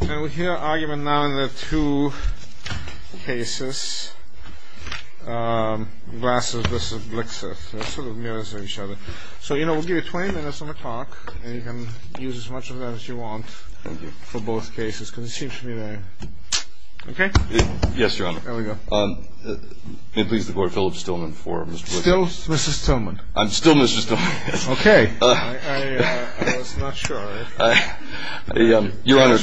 And we hear argument now in the two cases, Glasser v. Blixseth. They're sort of mirrors of each other. So, you know, we'll give you 20 minutes on the clock, and you can use as much of that as you want for both cases because it seems familiar. Okay? Yes, Your Honor. There we go. May it please the Court, Philip Stillman for Mr. Blixseth. Still Mrs. Stillman. I'm still Mrs. Stillman. Okay. I was not sure. Your Honor,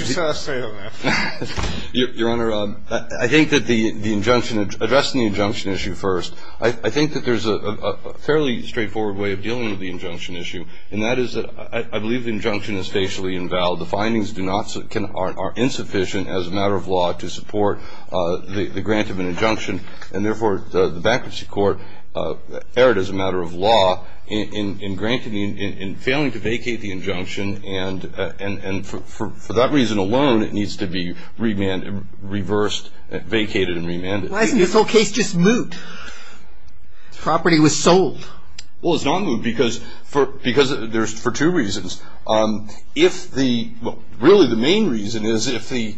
I think that the injunction, addressing the injunction issue first, I think that there's a fairly straightforward way of dealing with the injunction issue, and that is that I believe the injunction is facially invalid. The findings are insufficient as a matter of law to support the grant of an injunction, and therefore the bankruptcy court erred as a matter of law in granting, in failing to vacate the injunction, and for that reason alone it needs to be reversed, vacated, and remanded. Why isn't this whole case just moot? The property was sold. Well, it's not moot because there's two reasons. If the, really the main reason is if the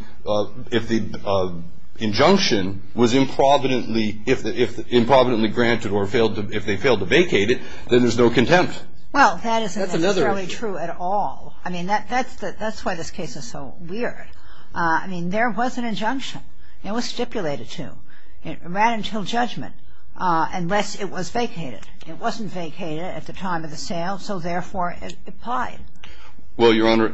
injunction was improvidently, if improvidently granted or if they failed to vacate it, then there's no contempt. Well, that isn't necessarily true at all. I mean, that's why this case is so weird. I mean, there was an injunction. It was stipulated to. It ran until judgment unless it was vacated. It wasn't vacated at the time of the sale, so therefore it applied. Well, Your Honor,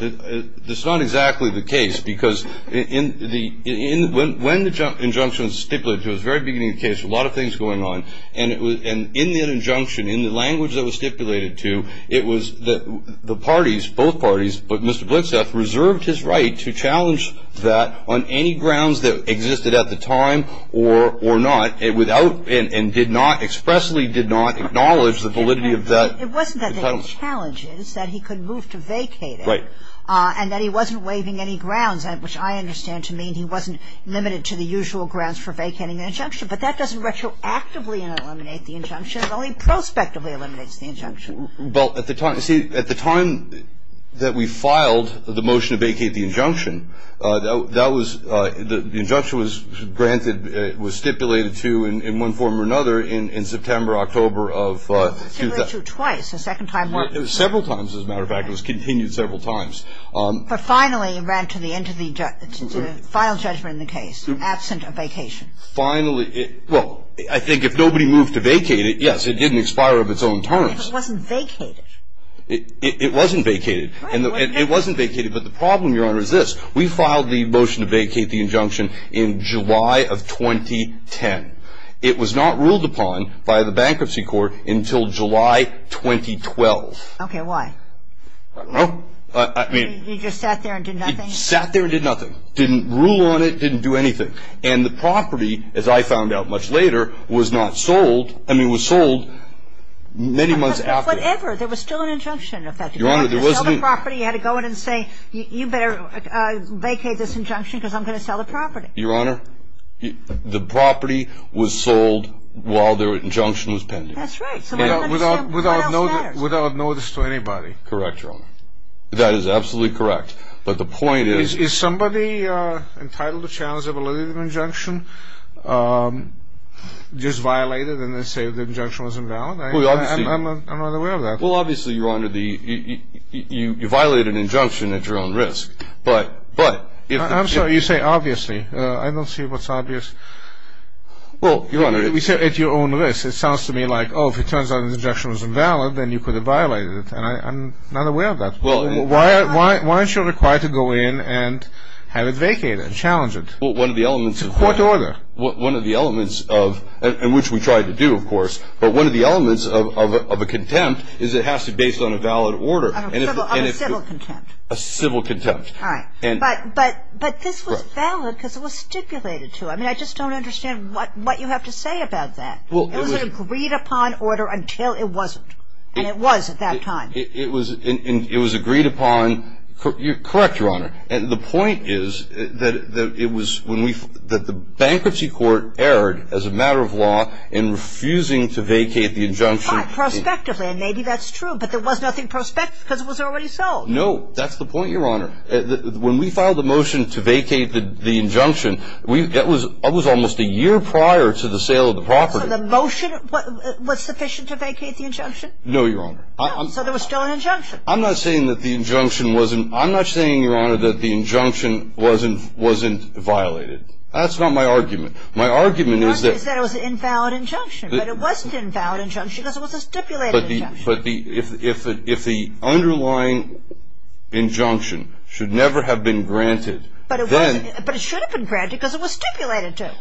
it's not exactly the case because in the, when the injunction was stipulated to, it was the very beginning of the case, a lot of things going on, and in the injunction, in the language that was stipulated to, it was the parties, both parties, but Mr. Blintzeff reserved his right to challenge that on any grounds that existed at the time or not, without, and did not, expressly did not acknowledge the validity of that. It wasn't that they had challenges, that he could move to vacate it. Right. And that he wasn't waiving any grounds, which I understand to mean he wasn't limited to the usual grounds for vacating an injunction, but that doesn't retroactively eliminate the injunction. It only prospectively eliminates the injunction. Well, at the time, see, at the time that we filed the motion to vacate the injunction, that was, the injunction was granted, was stipulated to in one form or another in September, October of 2000. It was stipulated to twice. A second time. Several times, as a matter of fact. It was continued several times. But finally, it ran to the end of the final judgment in the case, absent of vacation. Finally. Well, I think if nobody moved to vacate it, yes, it didn't expire of its own terms. It wasn't vacated. It wasn't vacated. It wasn't vacated, but the problem, Your Honor, is this. We filed the motion to vacate the injunction in July of 2010. It was not ruled upon by the Bankruptcy Court until July 2012. Okay. Why? I don't know. I mean. You just sat there and did nothing? Sat there and did nothing. Didn't rule on it. Didn't do anything. And the property, as I found out much later, was not sold. I mean, it was sold many months after. Whatever. There was still an injunction in effect. Your Honor, there wasn't. You had to sell the property. You had to go in and say, you better vacate this injunction because I'm going to sell the property. Your Honor, the property was sold while the injunction was pending. That's right. Without notice to anybody. Correct, Your Honor. That is absolutely correct. But the point is. Is somebody entitled to challenge the validity of the injunction just violated and they say the injunction was invalid? I'm not aware of that. Well, obviously, Your Honor, you violated an injunction at your own risk. I'm sorry. You say obviously. I don't see what's obvious. Well, Your Honor. You say at your own risk. It sounds to me like, oh, if it turns out the injunction was invalid, then you could have violated it. And I'm not aware of that. Why aren't you required to go in and have it vacated, challenge it? Well, one of the elements of that. It's a court order. One of the elements of, and which we tried to do, of course, but one of the elements of a contempt is it has to be based on a valid order. On a civil contempt. A civil contempt. All right. But this was valid because it was stipulated to. I mean, I just don't understand what you have to say about that. It was an agreed upon order until it wasn't. And it was at that time. It was agreed upon. Correct, Your Honor. And the point is that it was when we, that the bankruptcy court erred as a matter of law in refusing to vacate the injunction. Fine. Prospectively. And maybe that's true. But there was nothing prospective because it was already sold. No. That's the point, Your Honor. When we filed the motion to vacate the injunction, that was almost a year prior to the sale of the property. So the motion was sufficient to vacate the injunction? No, Your Honor. So there was still an injunction. I'm not saying that the injunction wasn't. I'm not saying, Your Honor, that the injunction wasn't violated. That's not my argument. My argument is that. Your argument is that it was an invalid injunction. But it wasn't an invalid injunction because it was a stipulated injunction. But if the underlying injunction should never have been granted, then. But it should have been granted because it was stipulated to.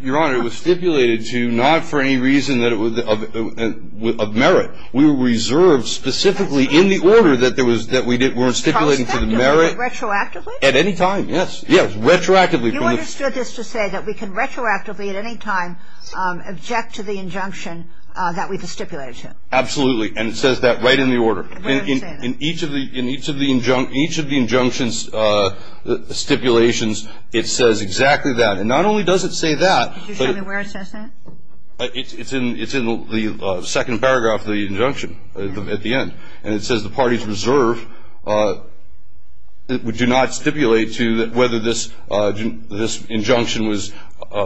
Your Honor, it was stipulated to not for any reason of merit. We were reserved specifically in the order that we were stipulating to the merit. Prospectively, but retroactively? At any time, yes. Yes, retroactively. You understood this to say that we can retroactively at any time object to the injunction that we've stipulated to? Absolutely. And it says that right in the order. Where does it say that? In each of the injunctions stipulations, it says exactly that. And not only does it say that. Could you show me where it says that? It's in the second paragraph of the injunction at the end. And it says the parties reserved do not stipulate to whether this injunction was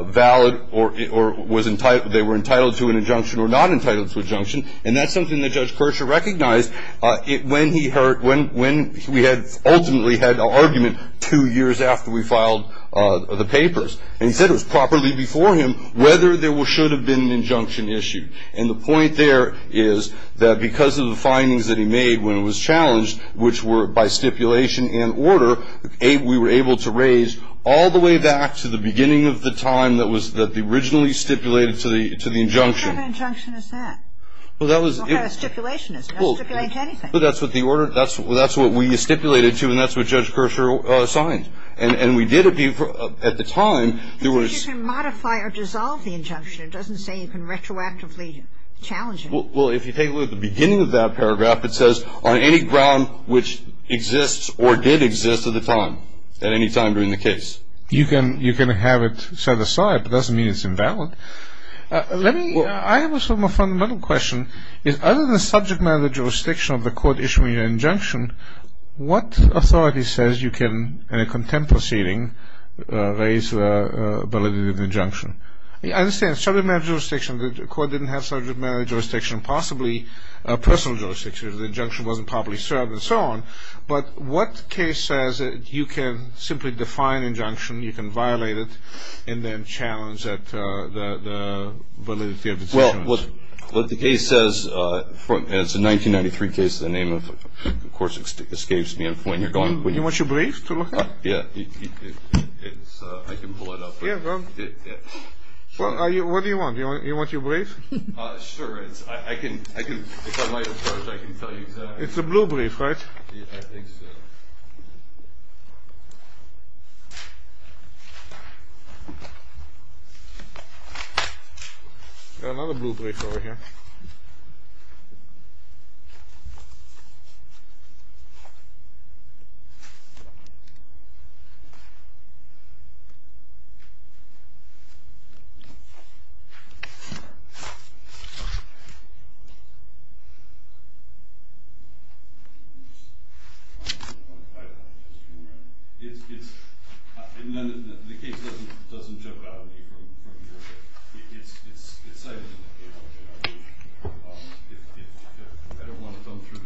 valid or they were entitled to an injunction or not entitled to an injunction. And that's something that Judge Kirscher recognized when we ultimately had an argument two years after we filed the papers. And he said it was properly before him whether there should have been an injunction issued. And the point there is that because of the findings that he made when it was challenged, which were by stipulation and order, we were able to raise all the way back to the beginning of the time that was originally stipulated to the injunction. What kind of injunction is that? Well, that was the order. Well, what kind of stipulation is it? It doesn't stipulate to anything. Well, that's what the order, that's what we stipulated to and that's what Judge Kirscher signed. And we did at the time, there was. But you can modify or dissolve the injunction. It doesn't say you can retroactively challenge it. Well, if you take a look at the beginning of that paragraph, it says on any ground which exists or did exist at the time, at any time during the case. You can have it set aside, but it doesn't mean it's invalid. I have a fundamental question. Other than subject matter jurisdiction of the court issuing an injunction, what authority says you can, in a contempt proceeding, raise the validity of the injunction? I understand subject matter jurisdiction. The court didn't have subject matter jurisdiction, possibly personal jurisdiction. The injunction wasn't properly served and so on. But what case says that you can simply define injunction, you can violate it, and then challenge the validity of the injunction? Well, what the case says, it's a 1993 case. The name, of course, escapes me of when you're going. Do you want your brief to look at? Yeah, I can pull it up. What do you want? Do you want your brief? Sure. If I might approach, I can tell you. It's a blue brief, right? I think so. We've got another blue brief over here.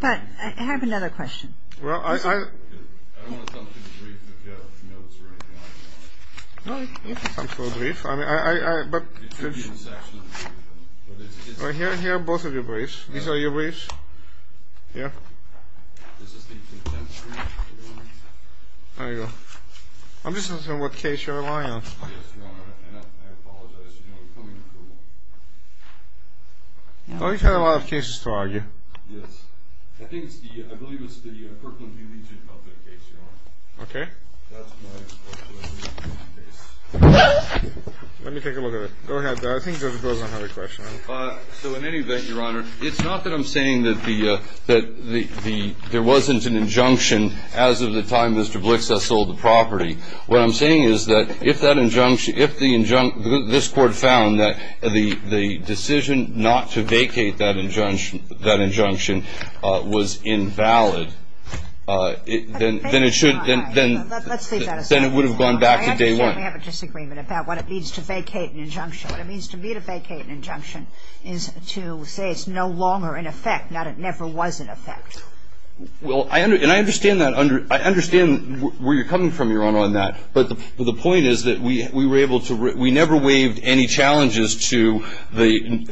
Okay. But I have another question. Well, I. I don't want to come to the brief if you have notes or anything like that on it. No, you can come to the brief. It should be in the section of the brief, though. Here are both of your briefs. These are your briefs. Here. This is the contempt brief. There you go. I'm just asking what case you're relying on. Yes, Your Honor, and I apologize. You know, we're coming to court. Oh, you've had a lot of cases to argue. Yes. I think it's the, I believe it's the Kirkland v. Legion public case, Your Honor. Okay. That's my question. Let me take a look at it. Go ahead. I think Judge Wilson had a question. So in any event, Your Honor, it's not that I'm saying that there wasn't an injunction as of the time Mr. Blixa sold the property. What I'm saying is that if that injunction, if this court found that the decision not to vacate that injunction, that injunction was invalid, then it should, then it would have gone back to day one. I absolutely have a disagreement about what it means to vacate an injunction. What it means to me to vacate an injunction is to say it's no longer in effect, not it never was in effect. Well, and I understand that. I understand where you're coming from, Your Honor, on that. But the point is that we were able to, we never waived any challenges to the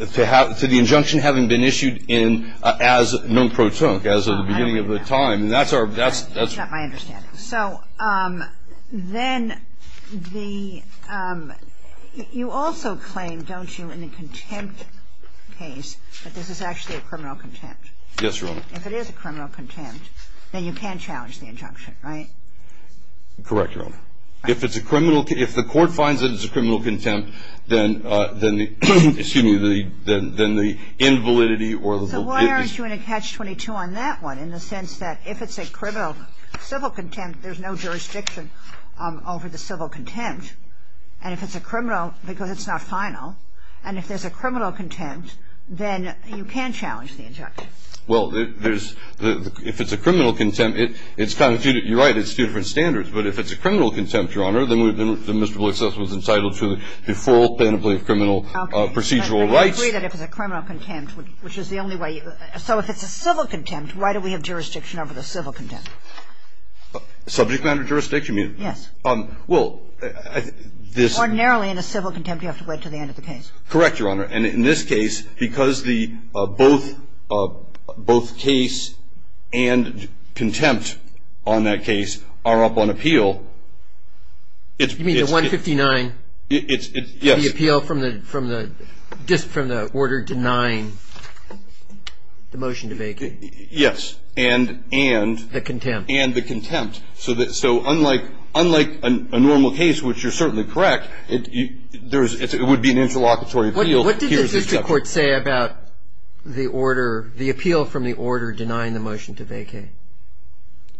injunction having been issued as non pro tonque, as of the beginning of the time. That's our, that's. That's not my understanding. So then the, you also claim, don't you, in the contempt case that this is actually a criminal contempt? Yes, Your Honor. If it is a criminal contempt, then you can challenge the injunction, right? Correct, Your Honor. If it's a criminal, if the court finds that it's a criminal contempt, then the, excuse me, then the invalidity or the. So why aren't you in a catch-22 on that one in the sense that if it's a criminal civil contempt, there's no jurisdiction over the civil contempt. And if it's a criminal, because it's not final, and if there's a criminal contempt, then you can challenge the injunction. Well, there's, if it's a criminal contempt, it's kind of, you're right, it's two different standards. But if it's a criminal contempt, Your Honor, then we've been, Mr. Blakes' was entitled to the full penalty of criminal procedural rights. Okay. And I agree that if it's a criminal contempt, which is the only way. So if it's a civil contempt, why do we have jurisdiction over the civil contempt? Subject matter jurisdiction, you mean? Yes. Well, this. Ordinarily, in a civil contempt, you have to wait until the end of the case. Correct, Your Honor. And in this case, because the both case and contempt on that case are up on appeal, it's. You mean the 159? Yes. The appeal from the order to nine, the motion to vacate. Yes. And. The contempt. And the contempt. So unlike a normal case, which you're certainly correct, it would be an interlocutory appeal. What did the district court say about the order, the appeal from the order denying the motion to vacate?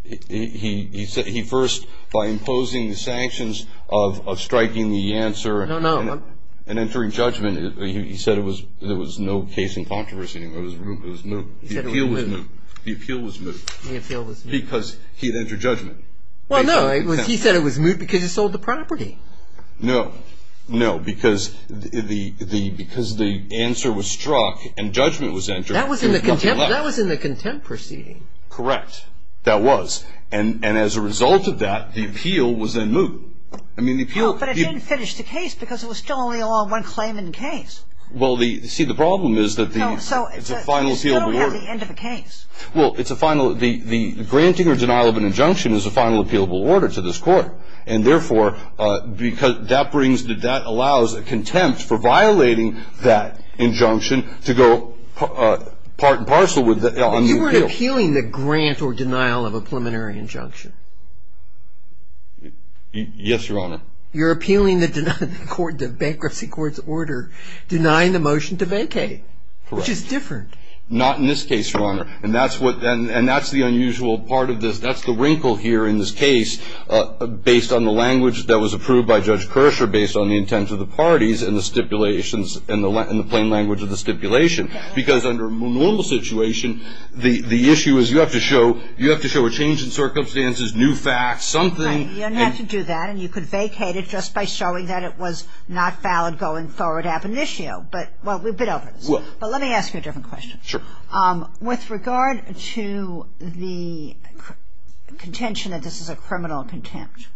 He first, by imposing the sanctions of striking the answer. No, no. And entering judgment, he said it was, there was no case in controversy. It was moot. He said it was moot. The appeal was moot. The appeal was moot. The appeal was moot. Because he had entered judgment. Well, no. He said it was moot because he sold the property. No. No. Because the answer was struck and judgment was entered. That was in the contempt proceeding. Correct. That was. And as a result of that, the appeal was then moot. I mean, the appeal. But it didn't finish the case because it was still only along one claim in the case. Well, see, the problem is that the. No, so. It's a final appeal. You don't have the end of the case. Well, it's a final. The granting or denial of an injunction is a final appealable order to this court. And therefore, because that brings. That allows a contempt for violating that injunction to go part and parcel on the appeal. But you weren't appealing the grant or denial of a preliminary injunction. Yes, Your Honor. You're appealing the bankruptcy court's order denying the motion to vacate. Correct. Which is different. Not in this case, Your Honor. And that's the unusual part of this. That's the wrinkle here in this case. Based on the language that was approved by Judge Kershaw based on the intent of the parties and the stipulations and the plain language of the stipulation. Because under a normal situation, the issue is you have to show. You have to show a change in circumstances, new facts, something. Right. You don't have to do that. And you could vacate it just by showing that it was not valid going forward ab initio. But. Well, we've been over this. But let me ask you a different question. Sure. With regard to the contention that this is a criminal contempt.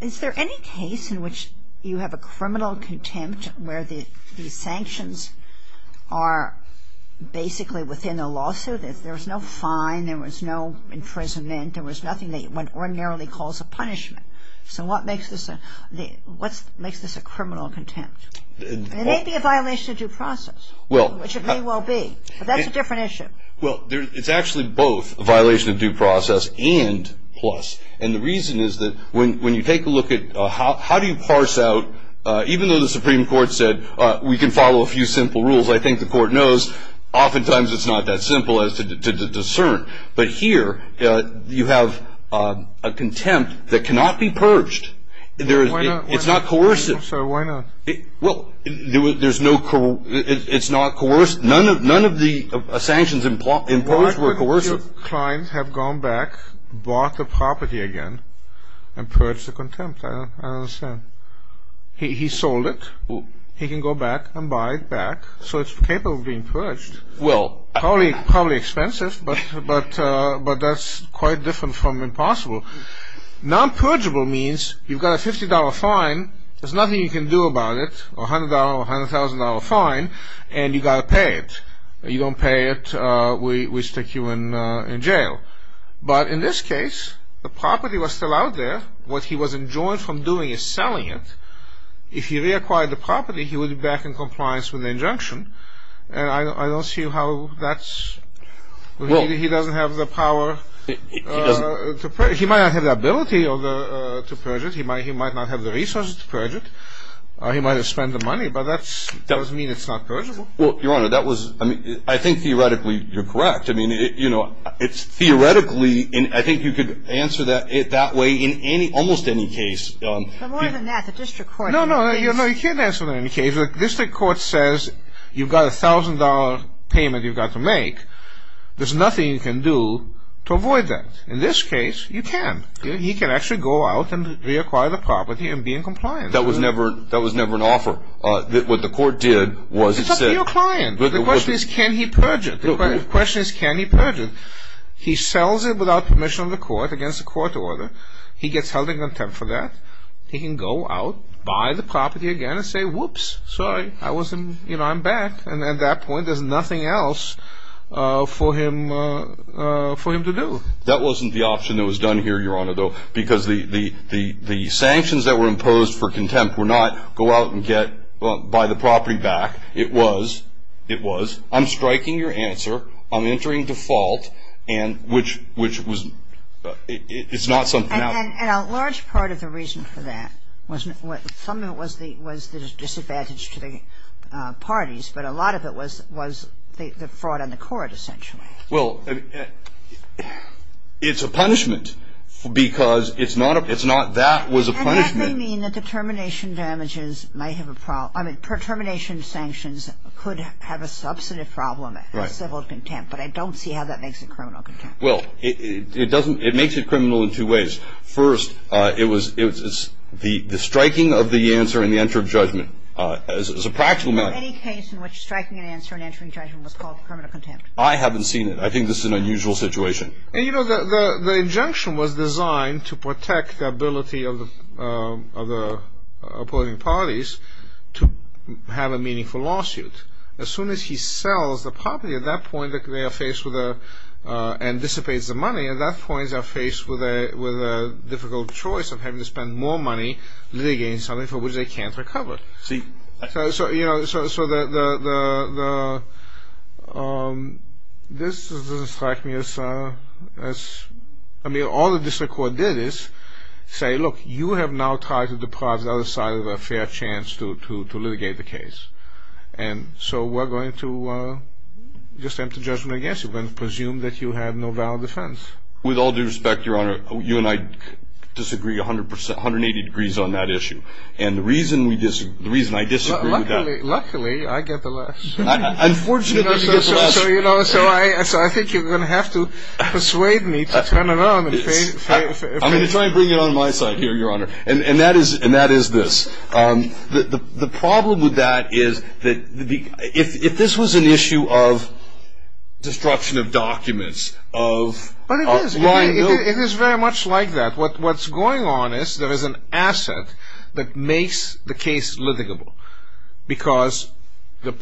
Is there any case in which you have a criminal contempt where the sanctions are basically within a lawsuit? There was no fine. There was no imprisonment. There was nothing that one ordinarily calls a punishment. So what makes this a criminal contempt? It may be a violation of due process. Well. Which it may well be. But that's a different issue. Well, it's actually both a violation of due process and plus. And the reason is that when you take a look at how do you parse out, even though the Supreme Court said we can follow a few simple rules, I think the Court knows oftentimes it's not that simple as to discern. But here you have a contempt that cannot be purged. Why not? It's not coercive. I'm sorry, why not? Well, it's not coercive. None of the sanctions imposed were coercive. Why would your client have gone back, bought the property again, and purged the contempt? I don't understand. He sold it. He can go back and buy it back. So it's capable of being purged. Well. Probably expensive, but that's quite different from impossible. Non-purgeable means you've got a $50 fine. There's nothing you can do about it, a $100 or $100,000 fine, and you've got to pay it. If you don't pay it, we stick you in jail. But in this case, the property was still out there. What he was enjoined from doing is selling it. If he reacquired the property, he would be back in compliance with the injunction. And I don't see how that's – he doesn't have the power. He might not have the ability to purge it. He might not have the resources to purge it. He might have spent the money, but that doesn't mean it's not purgeable. Well, Your Honor, that was – I think theoretically you're correct. I mean, you know, it's theoretically – I think you could answer that way in almost any case. But more than that, the district court – No, no, you can't answer that in any case. The district court says you've got a $1,000 payment you've got to make. There's nothing you can do to avoid that. In this case, you can. He can actually go out and reacquire the property and be in compliance. That was never an offer. What the court did was it said – It's up to your client. The question is can he purge it. The question is can he purge it. He sells it without permission of the court, against the court order. He gets held in contempt for that. He can go out, buy the property again, and say, whoops, sorry, I wasn't – you know, I'm back. And at that point, there's nothing else for him to do. That wasn't the option that was done here, Your Honor, though, because the sanctions that were imposed for contempt were not go out and buy the property back. It was I'm striking your answer, I'm entering default, and which was – it's not something else. And a large part of the reason for that was the disadvantage to the parties. But a lot of it was the fraud on the court, essentially. Well, it's a punishment because it's not – it's not that was a punishment. And that may mean that the termination damages might have a – I mean, termination sanctions could have a substantive problem as civil contempt. But I don't see how that makes it criminal contempt. Well, it doesn't – it makes it criminal in two ways. First, it was the striking of the answer and the enter of judgment as a practical matter. Any case in which striking an answer and entering judgment was called criminal contempt? I haven't seen it. I think this is an unusual situation. And, you know, the injunction was designed to protect the ability of the opposing parties to have a meaningful lawsuit. As soon as he sells the property, at that point they are faced with a – and dissipates the money. At that point, they're faced with a difficult choice of having to spend more money litigating something for which they can't recover. So, you know, so the – this doesn't strike me as – I mean, all the district court did is say, look, you have now tried to deprive the other side of a fair chance to litigate the case. And so we're going to just enter judgment against you. We're going to presume that you have no valid defense. With all due respect, Your Honor, you and I disagree 180 degrees on that issue. And the reason we disagree – the reason I disagree with that – Luckily, I get the less. Unfortunately, you get the less. So, you know, so I think you're going to have to persuade me to turn it on and face – I'm going to try and bring it on my side here, Your Honor. And that is this. The problem with that is that if this was an issue of destruction of documents, of – But it is. It is very much like that. What's going on is there is an asset that makes the case litigable because the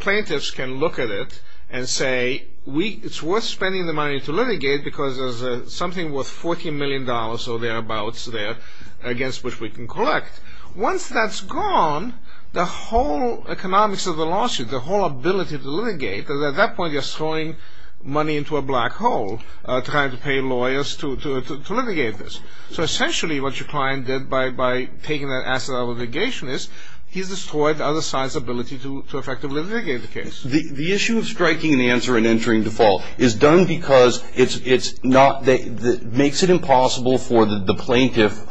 plaintiffs can look at it and say it's worth spending the money to litigate because there's something worth $14 million or thereabouts there against which we can collect. Once that's gone, the whole economics of the lawsuit, the whole ability to litigate, because at that point you're throwing money into a black hole trying to pay lawyers to litigate this. So essentially what your client did by taking that asset out of litigation is he's destroyed the other side's ability to effectively litigate the case. The issue of striking an answer and entering default is done because it's not – it makes it impossible for the plaintiff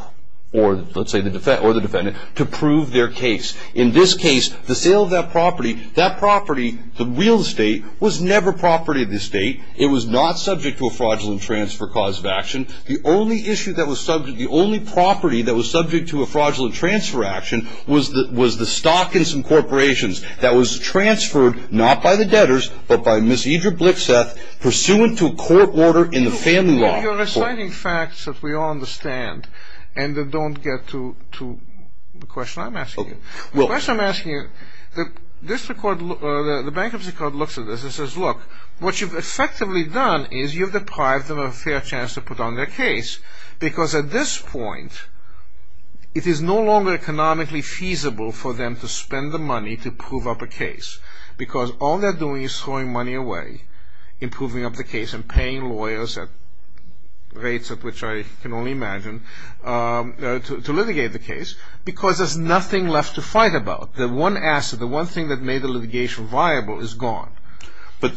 or, let's say, the defendant to prove their case. In this case, the sale of that property, that property, the real estate, was never property of the estate. It was not subject to a fraudulent transfer cause of action. The only issue that was subject, the only property that was subject to a fraudulent transfer action was the stock in some corporations that was transferred not by the debtors but by Ms. Idria Blitzeth pursuant to a court order in the family law. You're reciting facts that we all understand and that don't get to the question I'm asking you. The question I'm asking you, the bankruptcy court looks at this and says, look, what you've effectively done is you've deprived them of a fair chance to put on their case because at this point it is no longer economically feasible for them to spend the money to prove up a case because all they're doing is throwing money away in proving up the case and paying lawyers at rates at which I can only imagine to litigate the case because there's nothing left to fight about. The one asset, the one thing that made the litigation viable is gone.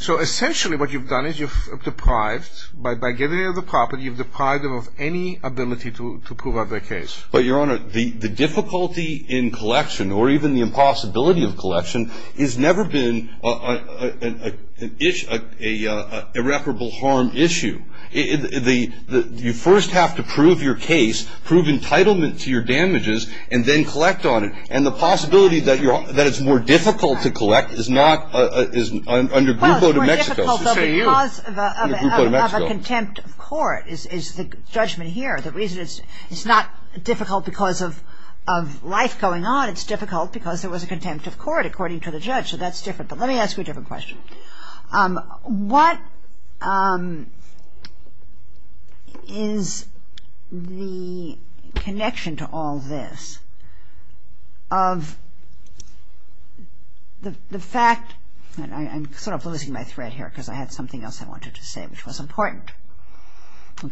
So essentially what you've done is you've deprived – by getting rid of the property, you've deprived them of any ability to prove up their case. But, Your Honor, the difficulty in collection or even the impossibility of collection has never been an irreparable harm issue. You first have to prove your case, prove entitlement to your damages, and then collect on it. And the possibility that it's more difficult to collect is not – is under Grupo de Mexico. Well, it's more difficult because of a contempt of court is the judgment here. The reason is it's not difficult because of life going on. It's difficult because there was a contempt of court according to the judge. So that's different. But let me ask you a different question. What is the connection to all this of the fact – and I'm sort of losing my thread here because I had something else I wanted to say which was important.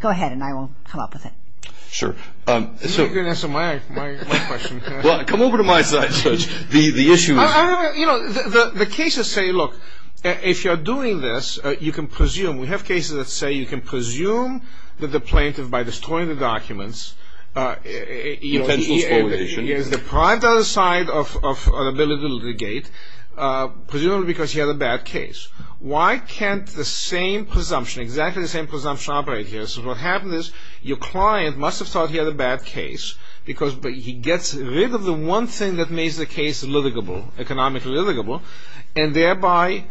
Go ahead and I will come up with it. Sure. You can answer my question. Well, come over to my side, Judge. The issue is – You know, the cases say, look, if you're doing this, you can presume – we have cases that say you can presume that the plaintiff, by destroying the documents – Intentional spoliation. He has deprived the other side of an ability to litigate, presumably because he had a bad case. Why can't the same presumption, exactly the same presumption operate here? So what happens is your client must have thought he had a bad case, because he gets rid of the one thing that makes the case litigable, economically litigable, and thereby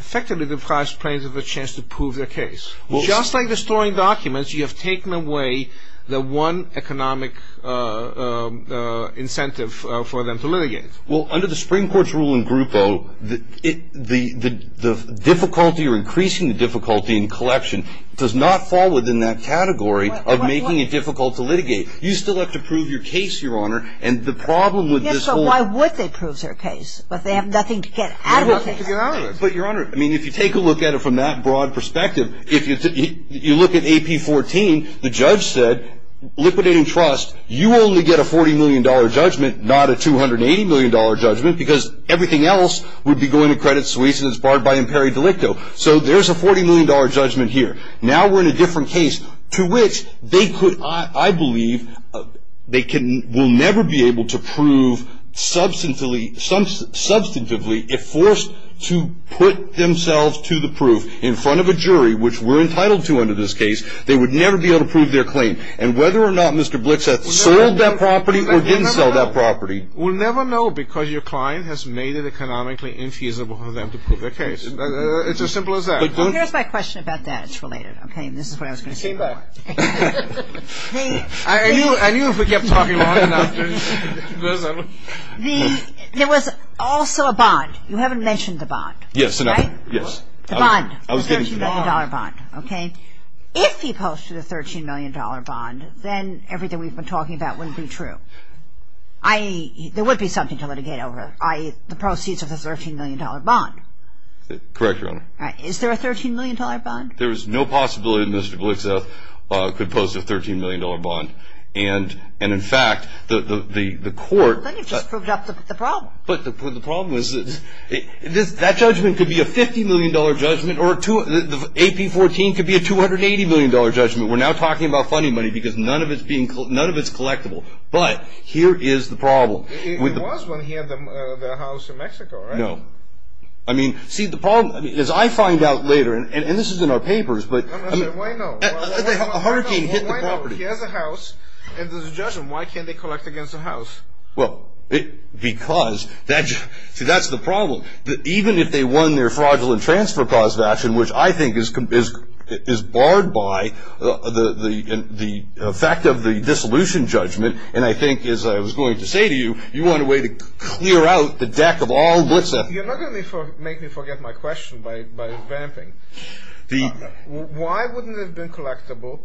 effectively deprives plaintiffs of a chance to prove their case. Just like destroying documents, you have taken away the one economic incentive for them to litigate. Well, under the Supreme Court's rule in Grupo, the difficulty or increasing the difficulty in collection does not fall within that category of making it difficult to litigate. You still have to prove your case, Your Honor, and the problem with this whole – Yes, so why would they prove their case if they have nothing to get out of it? But, Your Honor, I mean, if you take a look at it from that broad perspective, if you look at AP 14, the judge said, liquidating trust, you only get a $40 million judgment, not a $280 million judgment, because everything else would be going to credit suesas barred by imperi delicto. So there's a $40 million judgment here. Now we're in a different case to which they could, I believe, they will never be able to prove substantively if forced to put themselves to the proof in front of a jury, which we're entitled to under this case. They would never be able to prove their claim. And whether or not Mr. Blixeth sold that property or didn't sell that property, we'll never know because your client has made it economically infeasible for them to prove their case. It's as simple as that. Here's my question about that. It's related. Okay, and this is what I was going to say. I knew if we kept talking long enough. There was also a bond. You haven't mentioned the bond. Yes, enough. Yes. The bond, the $13 million bond, okay? If he posted a $13 million bond, then everything we've been talking about wouldn't be true, i.e., there would be something to litigate over, i.e., the proceeds of the $13 million bond. Correct, Your Honor. All right. Is there a $13 million bond? There is no possibility that Mr. Blixeth could post a $13 million bond. And, in fact, the court. But you just proved up the problem. But the problem is that that judgment could be a $50 million judgment, or the AP-14 could be a $280 million judgment. We're now talking about funny money because none of it's collectible. But here is the problem. It was when he had the house in Mexico, right? No. I mean, see, the problem is I find out later, and this is in our papers, but... Why not? A hurricane hit the property. Why not? Why can't they collect against the house? Well, because... See, that's the problem. Even if they won their fraudulent transfer clause action, which I think is barred by the effect of the dissolution judgment... And I think, as I was going to say to you, you want a way to clear out the deck of all Blixeth. You're not going to make me forget my question by ramping. The... Why wouldn't it have been collectible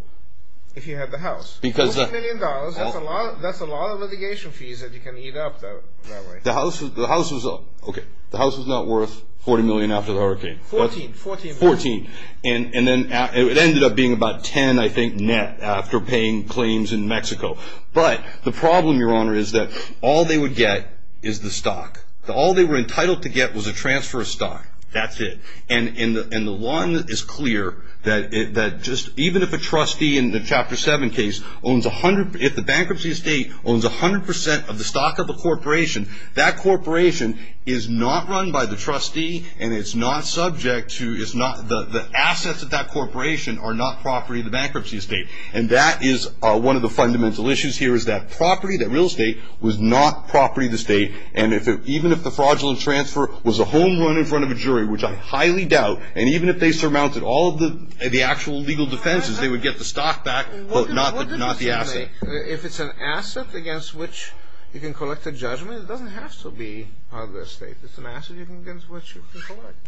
if he had the house? $40 million. That's a lot of litigation fees that you can eat up that way. The house was not worth $40 million after the hurricane. $14. $14. And then it ended up being about $10, I think, net after paying claims in Mexico. But the problem, Your Honor, is that all they would get is the stock. All they were entitled to get was a transfer of stock. That's it. And the law is clear that just even if a trustee in the Chapter 7 case owns a hundred... If the bankruptcy estate owns a hundred percent of the stock of a corporation, that corporation is not run by the trustee. And it's not subject to... The assets of that corporation are not property of the bankruptcy estate. And that is one of the fundamental issues here is that property, that real estate, was not property of the state. And even if the fraudulent transfer was a home run in front of a jury, which I highly doubt, and even if they surmounted all of the actual legal defenses, they would get the stock back, quote, not the asset. If it's an asset against which you can collect a judgment, it doesn't have to be part of the estate. It's an asset against which you can collect.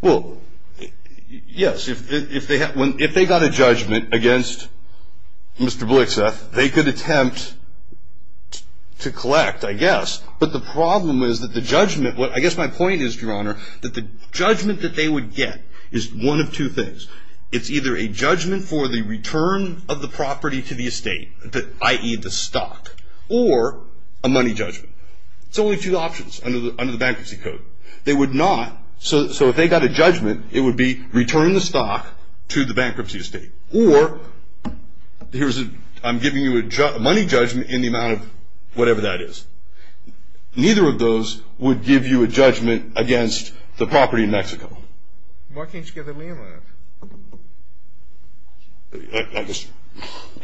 Well, yes. If they got a judgment against Mr. Blixeth, they could attempt to collect, I guess. But the problem is that the judgment... I guess my point is, Your Honor, that the judgment that they would get is one of two things. It's either a judgment for the return of the property to the estate, i.e., the stock, or a money judgment. It's only two options under the Bankruptcy Code. They would not... So if they got a judgment, it would be return the stock to the bankruptcy estate. Or here's a... I'm giving you a money judgment in the amount of whatever that is. Neither of those would give you a judgment against the property in Mexico. Why can't you give it to me, Your Honor? I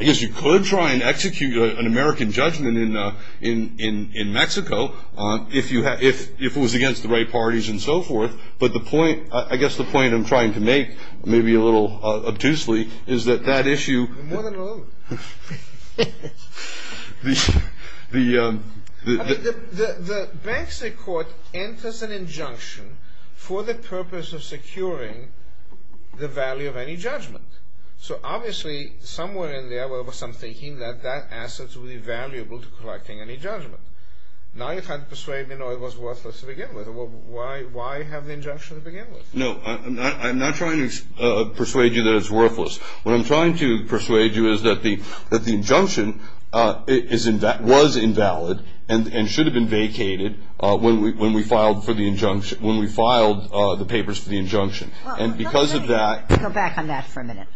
guess you could try and execute an American judgment in Mexico if it was against the right parties and so forth. But the point... I guess the point I'm trying to make, maybe a little obtusely, is that that issue... More than a little. The... The bankruptcy court enters an injunction for the purpose of securing the value of any judgment. So obviously, somewhere in there was some thinking that that asset would be valuable to collecting any judgment. Now you're trying to persuade me it was worthless to begin with. Why have the injunction to begin with? No. I'm not trying to persuade you that it's worthless. What I'm trying to persuade you is that the injunction was invalid and should have been vacated when we filed the papers for the injunction. And because of that... Go back on that for a minute.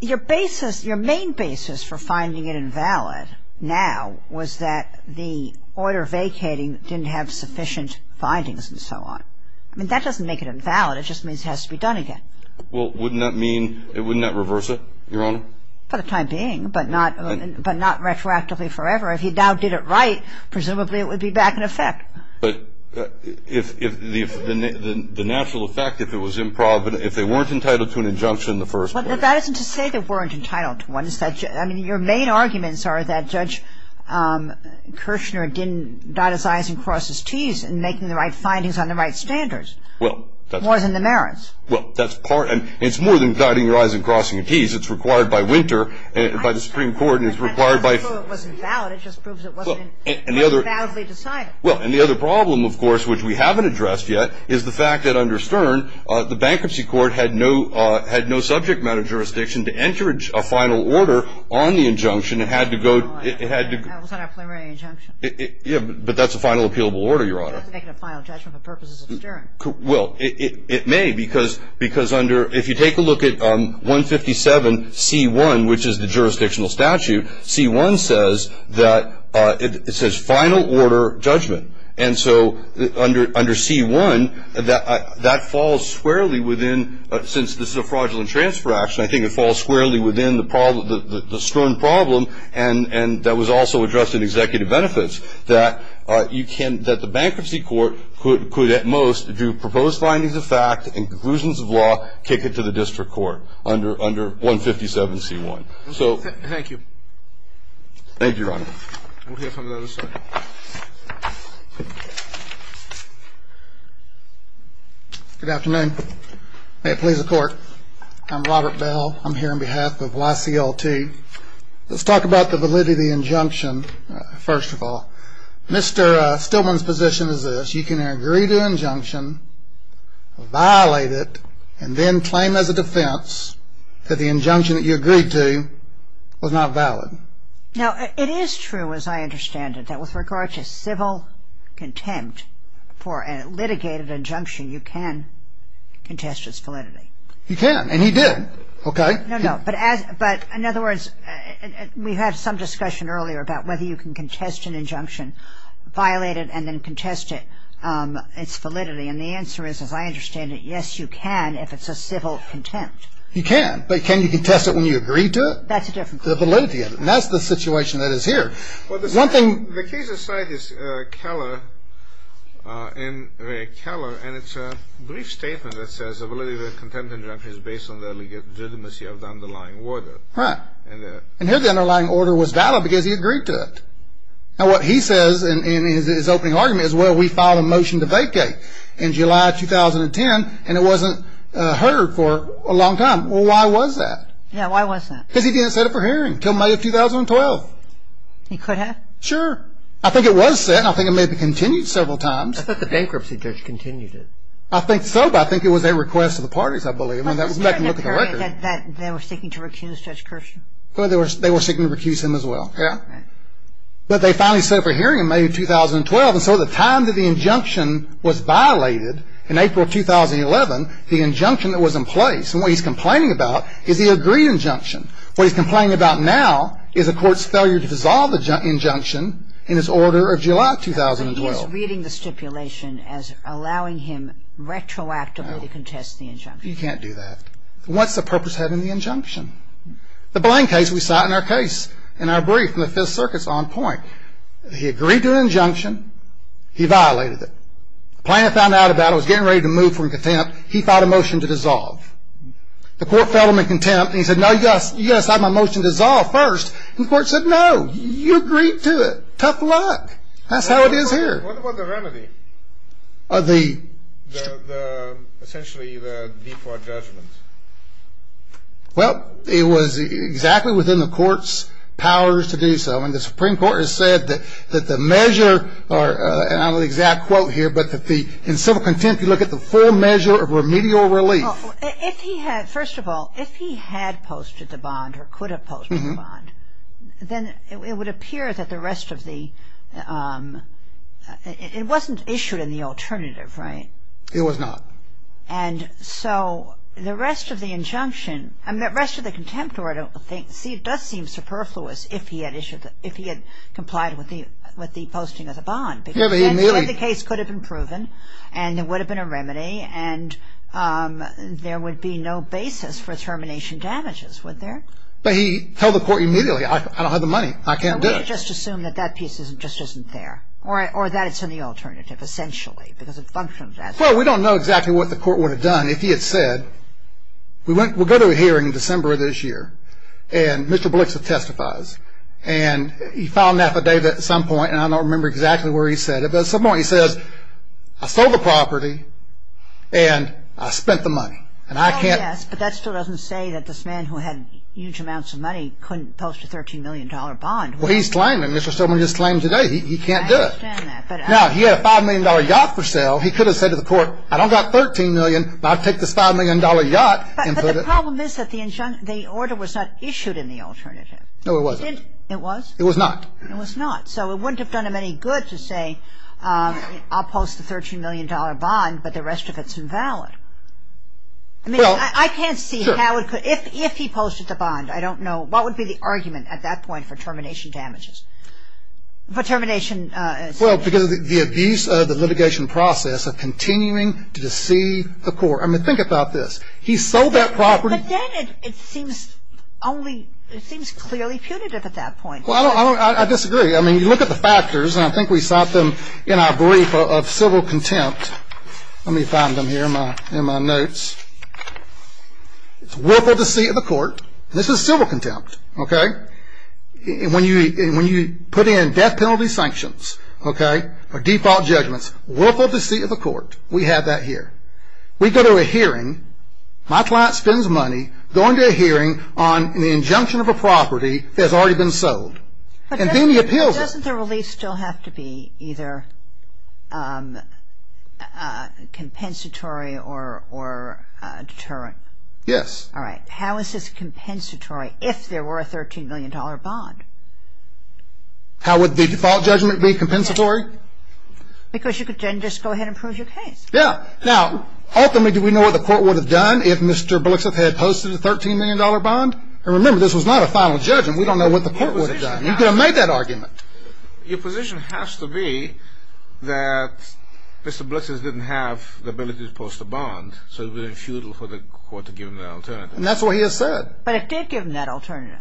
Your basis, your main basis for finding it invalid now was that the order vacating didn't have sufficient findings and so on. I mean, that doesn't make it invalid. It just means it has to be done again. Well, wouldn't that mean, wouldn't that reverse it, Your Honor? For the time being, but not retroactively forever. If he now did it right, presumably it would be back in effect. But if the natural effect, if it was improvident, if they weren't entitled to an injunction in the first place. But that isn't to say they weren't entitled to one. I mean, your main arguments are that Judge Kirshner didn't dot his I's and cross his T's in making the right findings on the right standards. Well, that's... More than the merits. Well, that's part... And it's more than dotting your I's and crossing your T's. It's required by Winter and by the Supreme Court. And it's required by... And that doesn't prove it wasn't valid. It just proves it wasn't... And the other... And the other problem, of course, which we haven't addressed yet, is the fact that under Stern, the Bankruptcy Court had no subject matter jurisdiction to enter a final order on the injunction. It had to go... That was not a preliminary injunction. Yeah, but that's a final appealable order, Your Honor. It doesn't make it a final judgment for purposes of Stern. Well, it may, because under... If you take a look at 157C1, which is the jurisdictional statute, C1 says that it says final order judgment. And so under... Under C1, that falls squarely within... Since this is a fraudulent transfer action, I think it falls squarely within the problem... The Stern problem. And that was also addressed in Executive Benefits, that you can... That the Bankruptcy Court could at most do proposed findings of fact and conclusions of law, kick it to the District Court under 157C1. Thank you. Thank you, Your Honor. We'll hear from the other side. Good afternoon. May it please the Court. I'm Robert Bell. I'm here on behalf of YCL2. Let's talk about the validity of the injunction, first of all. Mr. Stillman's position is this. You can agree to an injunction, violate it, and then claim as a defense that the injunction that you agreed to was not valid. Now, it is true, as I understand it, that with regard to civil contempt for a litigated injunction, you can contest its validity. You can, and he did. Okay. No, no. But in other words, we had some discussion earlier about whether you can contest an injunction, violate it, and then contest its validity. And the answer is, as I understand it, yes, you can if it's a civil contempt. You can. But can you contest it when you agree to it? That's a different question. The validity of it. And that's the situation that is here. Well, the case at site is Keller, M. Ray Keller, and it's a brief statement that says the validity of a contempt injunction is based on the legitimacy of the underlying order. Right. And here the underlying order was valid because he agreed to it. Now, what he says in his opening argument is, well, we filed a motion to vacate in July 2010, and it wasn't heard for a long time. Well, why was that? Yeah, why was that? Because he didn't set it for hearing until May of 2012. He could have? Sure. I think it was set, and I think it may have been continued several times. I thought the bankruptcy judge continued it. I think so, but I think it was a request of the parties, I believe, and that was back in the record. They were seeking to recuse Judge Kirshner. They were seeking to recuse him as well, yeah. Right. But they finally set it for hearing in May of 2012, and so the time that the injunction was violated in April 2011, the injunction that was in place, and what he's complaining about is the agreed injunction. What he's complaining about now is the court's failure to dissolve the injunction in its order of July 2012. He's reading the stipulation as allowing him retroactively to contest the injunction. No, you can't do that. What's the purpose of having the injunction? The Blaine case we cite in our case, in our brief from the Fifth Circuit is on point. He agreed to an injunction. He violated it. The plaintiff found out about it, was getting ready to move from contempt. He filed a motion to dissolve. The court fell to him in contempt, and he said, no, you've got to sign my motion to dissolve first, and the court said, no, you agreed to it. Tough luck. That's how it is here. What about the remedy of the, essentially, the default judgment? Well, it was exactly within the court's powers to do so, when the Supreme Court has said that the measure, and I don't know the exact quote here, but in civil contempt you look at the full measure of remedial relief. First of all, if he had posted the bond or could have posted the bond, then it would appear that the rest of the, it wasn't issued in the alternative, right? It was not. And so the rest of the injunction, I mean, the rest of the contempt order, I don't think, see, it does seem superfluous if he had issued, if he had complied with the posting of the bond. Because then the case could have been proven, and there would have been a remedy, and there would be no basis for termination damages, would there? But he told the court immediately, I don't have the money, I can't do it. Well, we could just assume that that piece just isn't there, or that it's in the alternative, essentially, because it functions as one. Well, we don't know exactly what the court would have done if he had said, we'll go to a hearing in December of this year, and Mr. Blixer testifies. And he filed an affidavit at some point, and I don't remember exactly where he said it, but at some point he says, I sold the property, and I spent the money, and I can't. Oh, yes, but that still doesn't say that this man who had huge amounts of money couldn't post a $13 million bond. Well, he's claiming it, Mr. Stillman just claimed today. He can't do it. Now, he had a $5 million yacht for sale. He could have said to the court, I don't got $13 million, but I'll take this $5 million yacht and put it. But the problem is that the order was not issued in the alternative. No, it wasn't. It was? It was not. It was not. So it wouldn't have done him any good to say, I'll post the $13 million bond, but the rest of it's invalid. I mean, I can't see how it could. If he posted the bond, I don't know. What would be the argument at that point for termination damages, for termination? Well, because of the abuse of the litigation process of continuing to deceive the court. I mean, think about this. He sold that property. But then it seems clearly punitive at that point. Well, I disagree. I mean, you look at the factors, and I think we cite them in our brief of civil contempt. Let me find them here in my notes. It's willful deceit of the court. This is civil contempt, okay? When you put in death penalty sanctions, okay, or default judgments, willful deceit of the court, we have that here. We go to a hearing. My client spends money going to a hearing on the injunction of a property that has already been sold. And then he appeals it. But doesn't the release still have to be either compensatory or deterrent? Yes. All right. How is this compensatory if there were a $13 million bond? How would the default judgment be compensatory? Because you could then just go ahead and prove your case. Yeah. Now, ultimately, do we know what the court would have done if Mr. Blixeth had posted a $13 million bond? And remember, this was not a final judgment. We don't know what the court would have done. You could have made that argument. Your position has to be that Mr. Blixeth didn't have the ability to post a bond, so it would have been futile for the court to give him that alternative. And that's what he has said. But it did give him that alternative.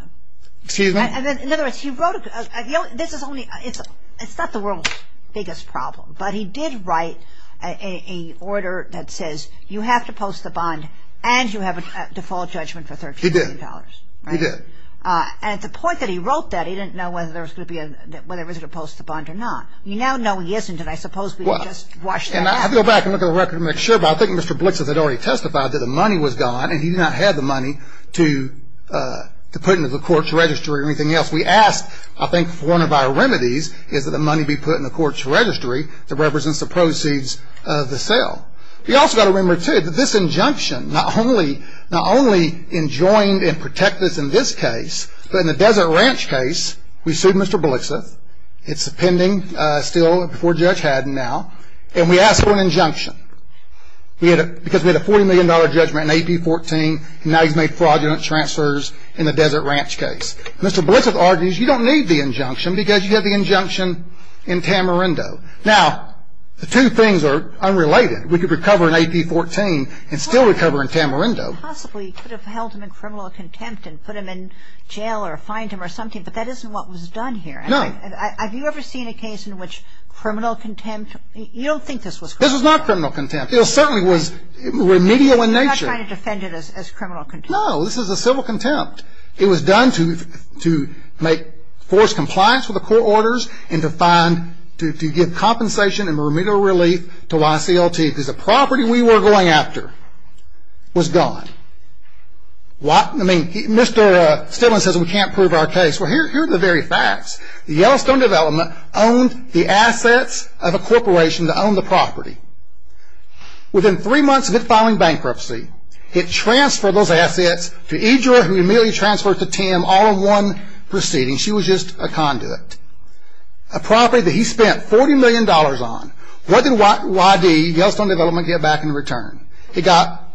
Excuse me? In other words, he wrote a – this is only – it's not the world's biggest problem. But he did write an order that says you have to post the bond and you have a default judgment for $13 million. He did. He did. And at the point that he wrote that, he didn't know whether there was going to be a – whether he was going to post the bond or not. You now know he isn't, and I suppose we can just wash that out. And I have to go back and look at the record to make sure, but I think Mr. Blixeth had already testified that the money was gone and he did not have the money to put into the court's registry or anything else. We asked, I think, for one of our remedies is that the money be put in the court's registry that represents the proceeds of the sale. We also got to remember, too, that this injunction not only enjoined and protected us in this case, but in the Desert Ranch case, we sued Mr. Blixeth. It's pending still before Judge Haddon now. And we asked for an injunction because we had a $40 million judgment in AP-14 and now he's made fraudulent transfers in the Desert Ranch case. Mr. Blixeth argues you don't need the injunction because you have the injunction in Tamarindo. Now, the two things are unrelated. We could recover in AP-14 and still recover in Tamarindo. Well, he possibly could have held him in criminal contempt and put him in jail or fined him or something, but that isn't what was done here. No. Have you ever seen a case in which criminal contempt? You don't think this was criminal contempt? This was not criminal contempt. It certainly was remedial in nature. You're not trying to defend it as criminal contempt. No, this is a civil contempt. It was done to make force compliance with the court orders and to give compensation and remedial relief to YCLT because the property we were going after was gone. I mean, Mr. Stillman says we can't prove our case. Well, here are the very facts. Yellowstone Development owned the assets of a corporation that owned the property. Within three months of it filing bankruptcy, it transferred those assets to Idra, who immediately transferred it to Tim all in one proceeding. She was just a conduit. A property that he spent $40 million on. What did YD, Yellowstone Development, get back in return? It got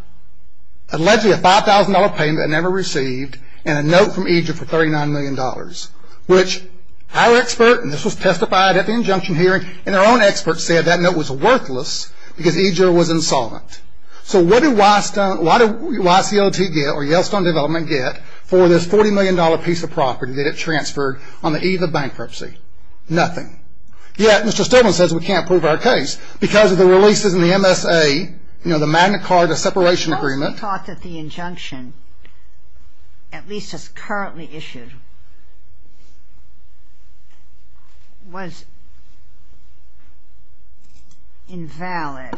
allegedly a $5,000 payment it never received and a note from Idra for $39 million, which our expert, and this was testified at the injunction hearing, and our own expert said that note was worthless because Idra was insolvent. So what did YCLT get, or Yellowstone Development get, for this $40 million piece of property that it transferred on the eve of bankruptcy? Nothing. Yet, Mr. Stillman says we can't prove our case because of the releases in the MSA, you know, the Magna Carta Separation Agreement. He thought that the injunction, at least as currently issued, was invalid,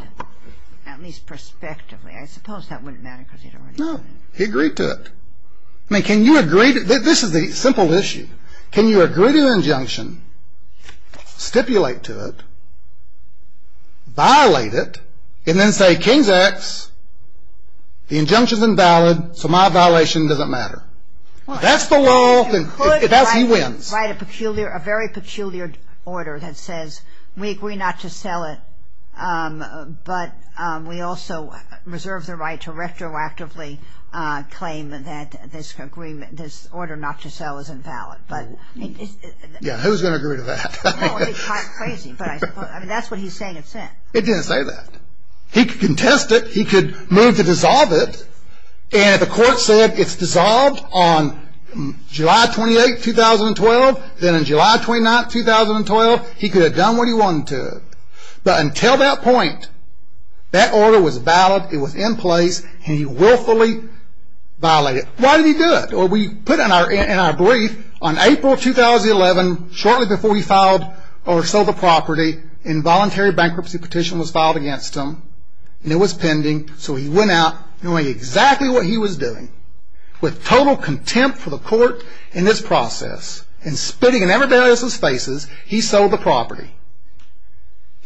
at least prospectively. I suppose that wouldn't matter because he'd already said it. No, he agreed to it. I mean, can you agree to it? This is the simple issue. Can you agree to the injunction, stipulate to it, violate it, and then say, King's X, the injunction's invalid, so my violation doesn't matter? That's the law. He wins. You could write a peculiar, a very peculiar order that says we agree not to sell it, but we also reserve the right to retroactively claim that this agreement, this order not to sell is invalid. Yeah, who's going to agree to that? It's crazy, but I suppose that's what he's saying it's in. It didn't say that. He could contest it. He could move to dissolve it, and if the court said it's dissolved on July 28, 2012, then on July 29, 2012, he could have done what he wanted to. But until that point, that order was valid. It was in place, and he willfully violated it. Why did he do it? Well, we put in our brief on April 2011, shortly before he filed or sold the property, involuntary bankruptcy petition was filed against him, and it was pending, so he went out knowing exactly what he was doing. With total contempt for the court in this process and spitting in everybody else's faces, he sold the property,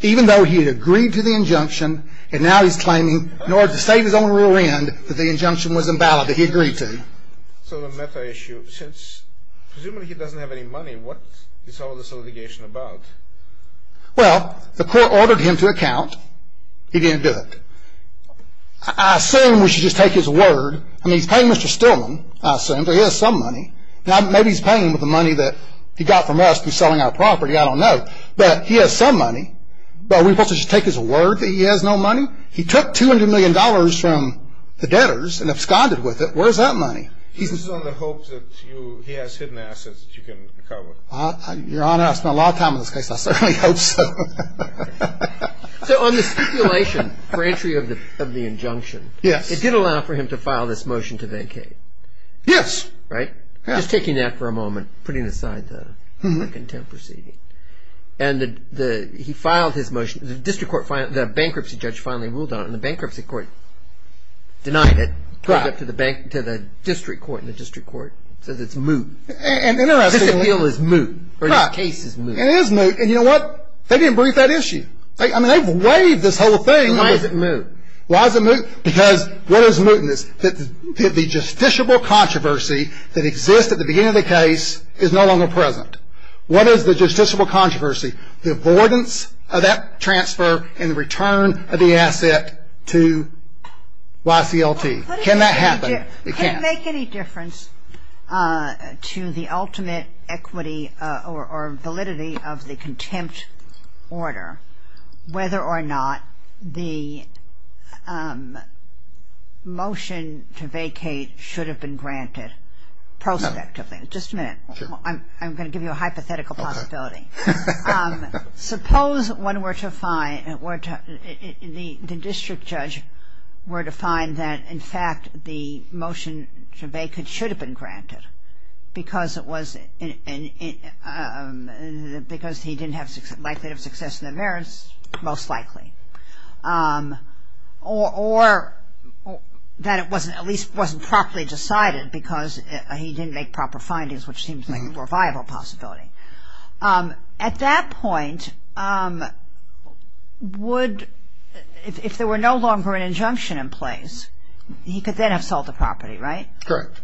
even though he had agreed to the injunction, and now he's claiming, in order to save his own rear end, that the injunction was invalid that he agreed to. So the meta issue, since presumably he doesn't have any money, what is all this litigation about? Well, the court ordered him to account. He didn't do it. I assume we should just take his word. I mean, he's paying Mr. Stillman, I assume, but he has some money. Now, maybe he's paying with the money that he got from us through selling our property. I don't know. But he has some money. Are we supposed to just take his word that he has no money? He took $200 million from the debtors and absconded with it. Where is that money? This is on the hopes that he has hidden assets that you can cover. Your Honor, I spent a lot of time on this case. I certainly hope so. So on the stipulation for entry of the injunction, it did allow for him to file this motion to vacate. Yes. Right? Just taking that for a moment, putting aside the contemporary. And he filed his motion. The bankruptcy judge finally ruled on it, and the bankruptcy court denied it, took it to the district court, and the district court says it's moot. This appeal is moot, or this case is moot. It is moot. And you know what? They didn't brief that issue. I mean, they've waived this whole thing. And why is it moot? Why is it moot? Because what is moot in this? The justiciable controversy that exists at the beginning of the case is no longer present. What is the justiciable controversy? The avoidance of that transfer and the return of the asset to YCLT. Can that happen? It can't. Does it make any difference to the ultimate equity or validity of the contempt order whether or not the motion to vacate should have been granted prospectively? Just a minute. I'm going to give you a hypothetical possibility. Suppose one were to find, the district judge were to find that, in fact, the motion to vacate should have been granted because it was, because he didn't have, likely to have success in the merits, most likely. Or that it wasn't, at least wasn't properly decided because he didn't make proper findings, which seems like a more viable possibility. At that point, would, if there were no longer an injunction in place, he could then have sold the property, right? Correct.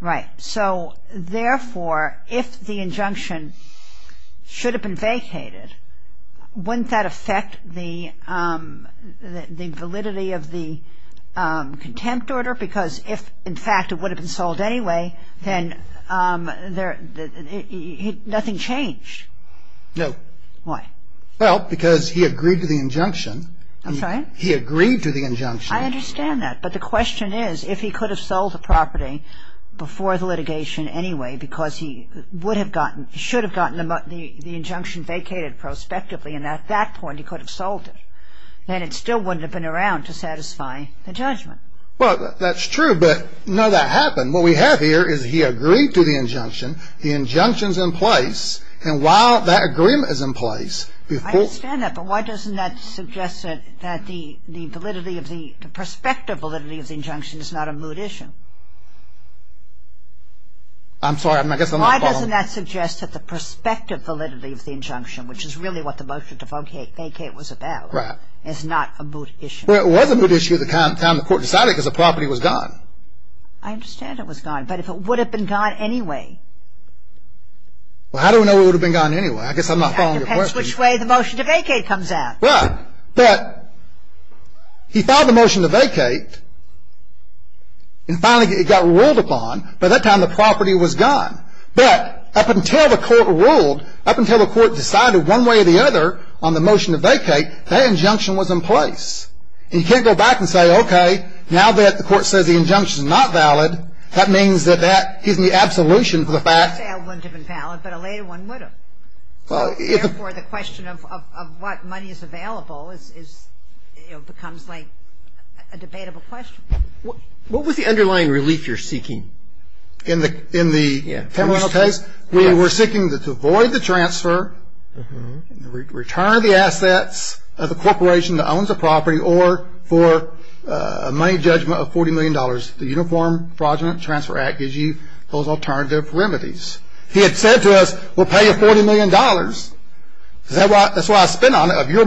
Right. So, therefore, if the injunction should have been vacated, wouldn't that affect the validity of the contempt order? No. Why? Well, because he agreed to the injunction. I'm sorry? He agreed to the injunction. I understand that. But the question is, if he could have sold the property before the litigation anyway because he would have gotten, should have gotten the injunction vacated prospectively and at that point he could have sold it, then it still wouldn't have been around to satisfy the judgment. Well, that's true. But, no, that happened. What we have here is he agreed to the injunction. The injunction's in place. And while that agreement is in place, before ---- I understand that. But why doesn't that suggest that the validity of the, the prospective validity of the injunction is not a moot issue? I'm sorry. I guess I'm not following. Why doesn't that suggest that the prospective validity of the injunction, which is really what the motion to vacate was about, is not a moot issue? Well, it was a moot issue at the time the court decided it because the property was gone. I understand it was gone. But if it would have been gone anyway? Well, how do we know it would have been gone anyway? I guess I'm not following your question. It depends which way the motion to vacate comes out. Right. But he filed the motion to vacate and finally it got ruled upon. By that time the property was gone. But up until the court ruled, up until the court decided one way or the other on the motion to vacate, that injunction was in place. And you can't go back and say, okay, now that the court says the injunction is not valid, that means that that gives me absolution for the fact. You could say it wouldn't have been valid, but a later one would have. Therefore, the question of what money is available is, you know, becomes like a debatable question. What was the underlying relief you're seeking? In the Temeral case, we were seeking to avoid the transfer, return the assets of the corporation that owns the property, or for a money judgment of $40 million. The Uniform Fraudulent Transfer Act gives you those alternative remedies. He had said to us, we'll pay you $40 million. That's why I spent on it. If you had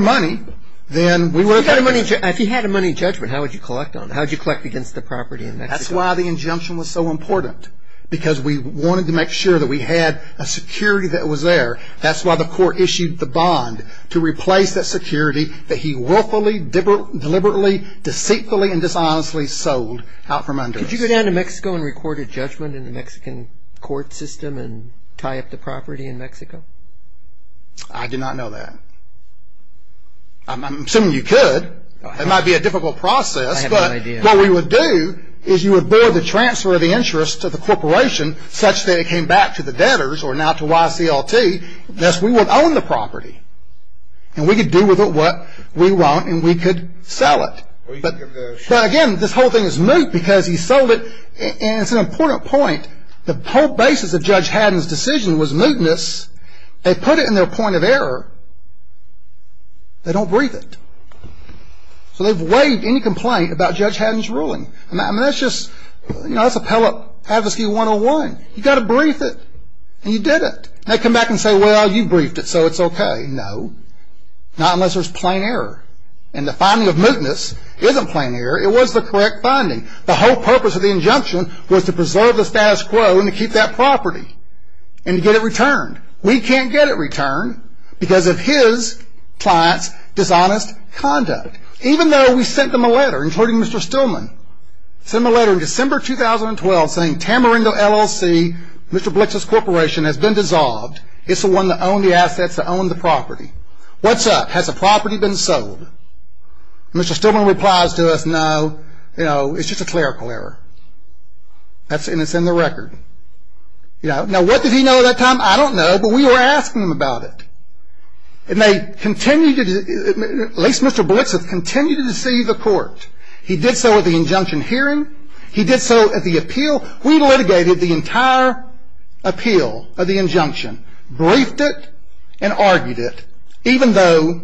a money judgment, how would you collect on it? How would you collect against the property in Mexico? That's why the injunction was so important, because we wanted to make sure that we had a security that was there. That's why the court issued the bond to replace that security that he willfully, deliberately, deceitfully, and dishonestly sold out from under us. Could you go down to Mexico and record a judgment in the Mexican court system and tie up the property in Mexico? I do not know that. I'm assuming you could. It might be a difficult process. But what we would do is you would void the transfer of the interest to the corporation, such that it came back to the debtors, or now to YCLT. Thus, we would own the property. And we could do with it what we want, and we could sell it. But again, this whole thing is moot because he sold it. And it's an important point. The whole basis of Judge Haddon's decision was mootness. They put it in their point of error. They don't breathe it. So they've waived any complaint about Judge Haddon's ruling. I mean, that's just, you know, that's Appellate Advocacy 101. You've got to brief it. And you did it. They come back and say, well, you briefed it, so it's okay. No, not unless there's plain error. And the finding of mootness isn't plain error. It was the correct finding. The whole purpose of the injunction was to preserve the status quo and to keep that property and to get it returned. We can't get it returned because of his client's dishonest conduct. Even though we sent them a letter, including Mr. Stillman, sent them a letter in December 2012 saying Tamarindo LLC, Mr. Blitzen's corporation, has been dissolved. It's the one that owned the assets that owned the property. What's up? Has the property been sold? Mr. Stillman replies to us, no, you know, it's just a clerical error. And it's in the record. Now, what did he know at that time? I don't know, but we were asking him about it. And they continued to, at least Mr. Blitzen, continued to deceive the court. He did so at the injunction hearing. He did so at the appeal. We litigated the entire appeal of the injunction, briefed it, and argued it, even though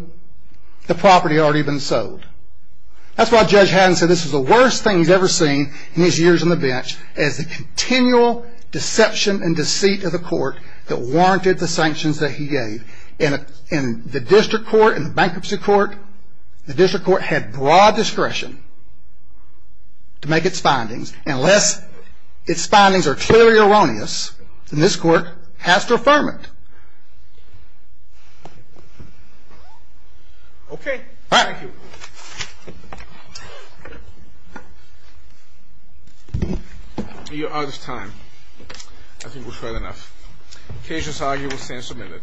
the property had already been sold. That's why Judge Haddon said this was the worst thing he's ever seen in his years on the bench, as the continual deception and deceit of the court that warranted the sanctions that he gave. And the district court and the bankruptcy court, the district court had broad discretion to make its findings. Unless its findings are clearly erroneous, then this court has to affirm it. Okay. Thank you. You're out of time. I think we've heard enough. The case is argued with sentence omitted.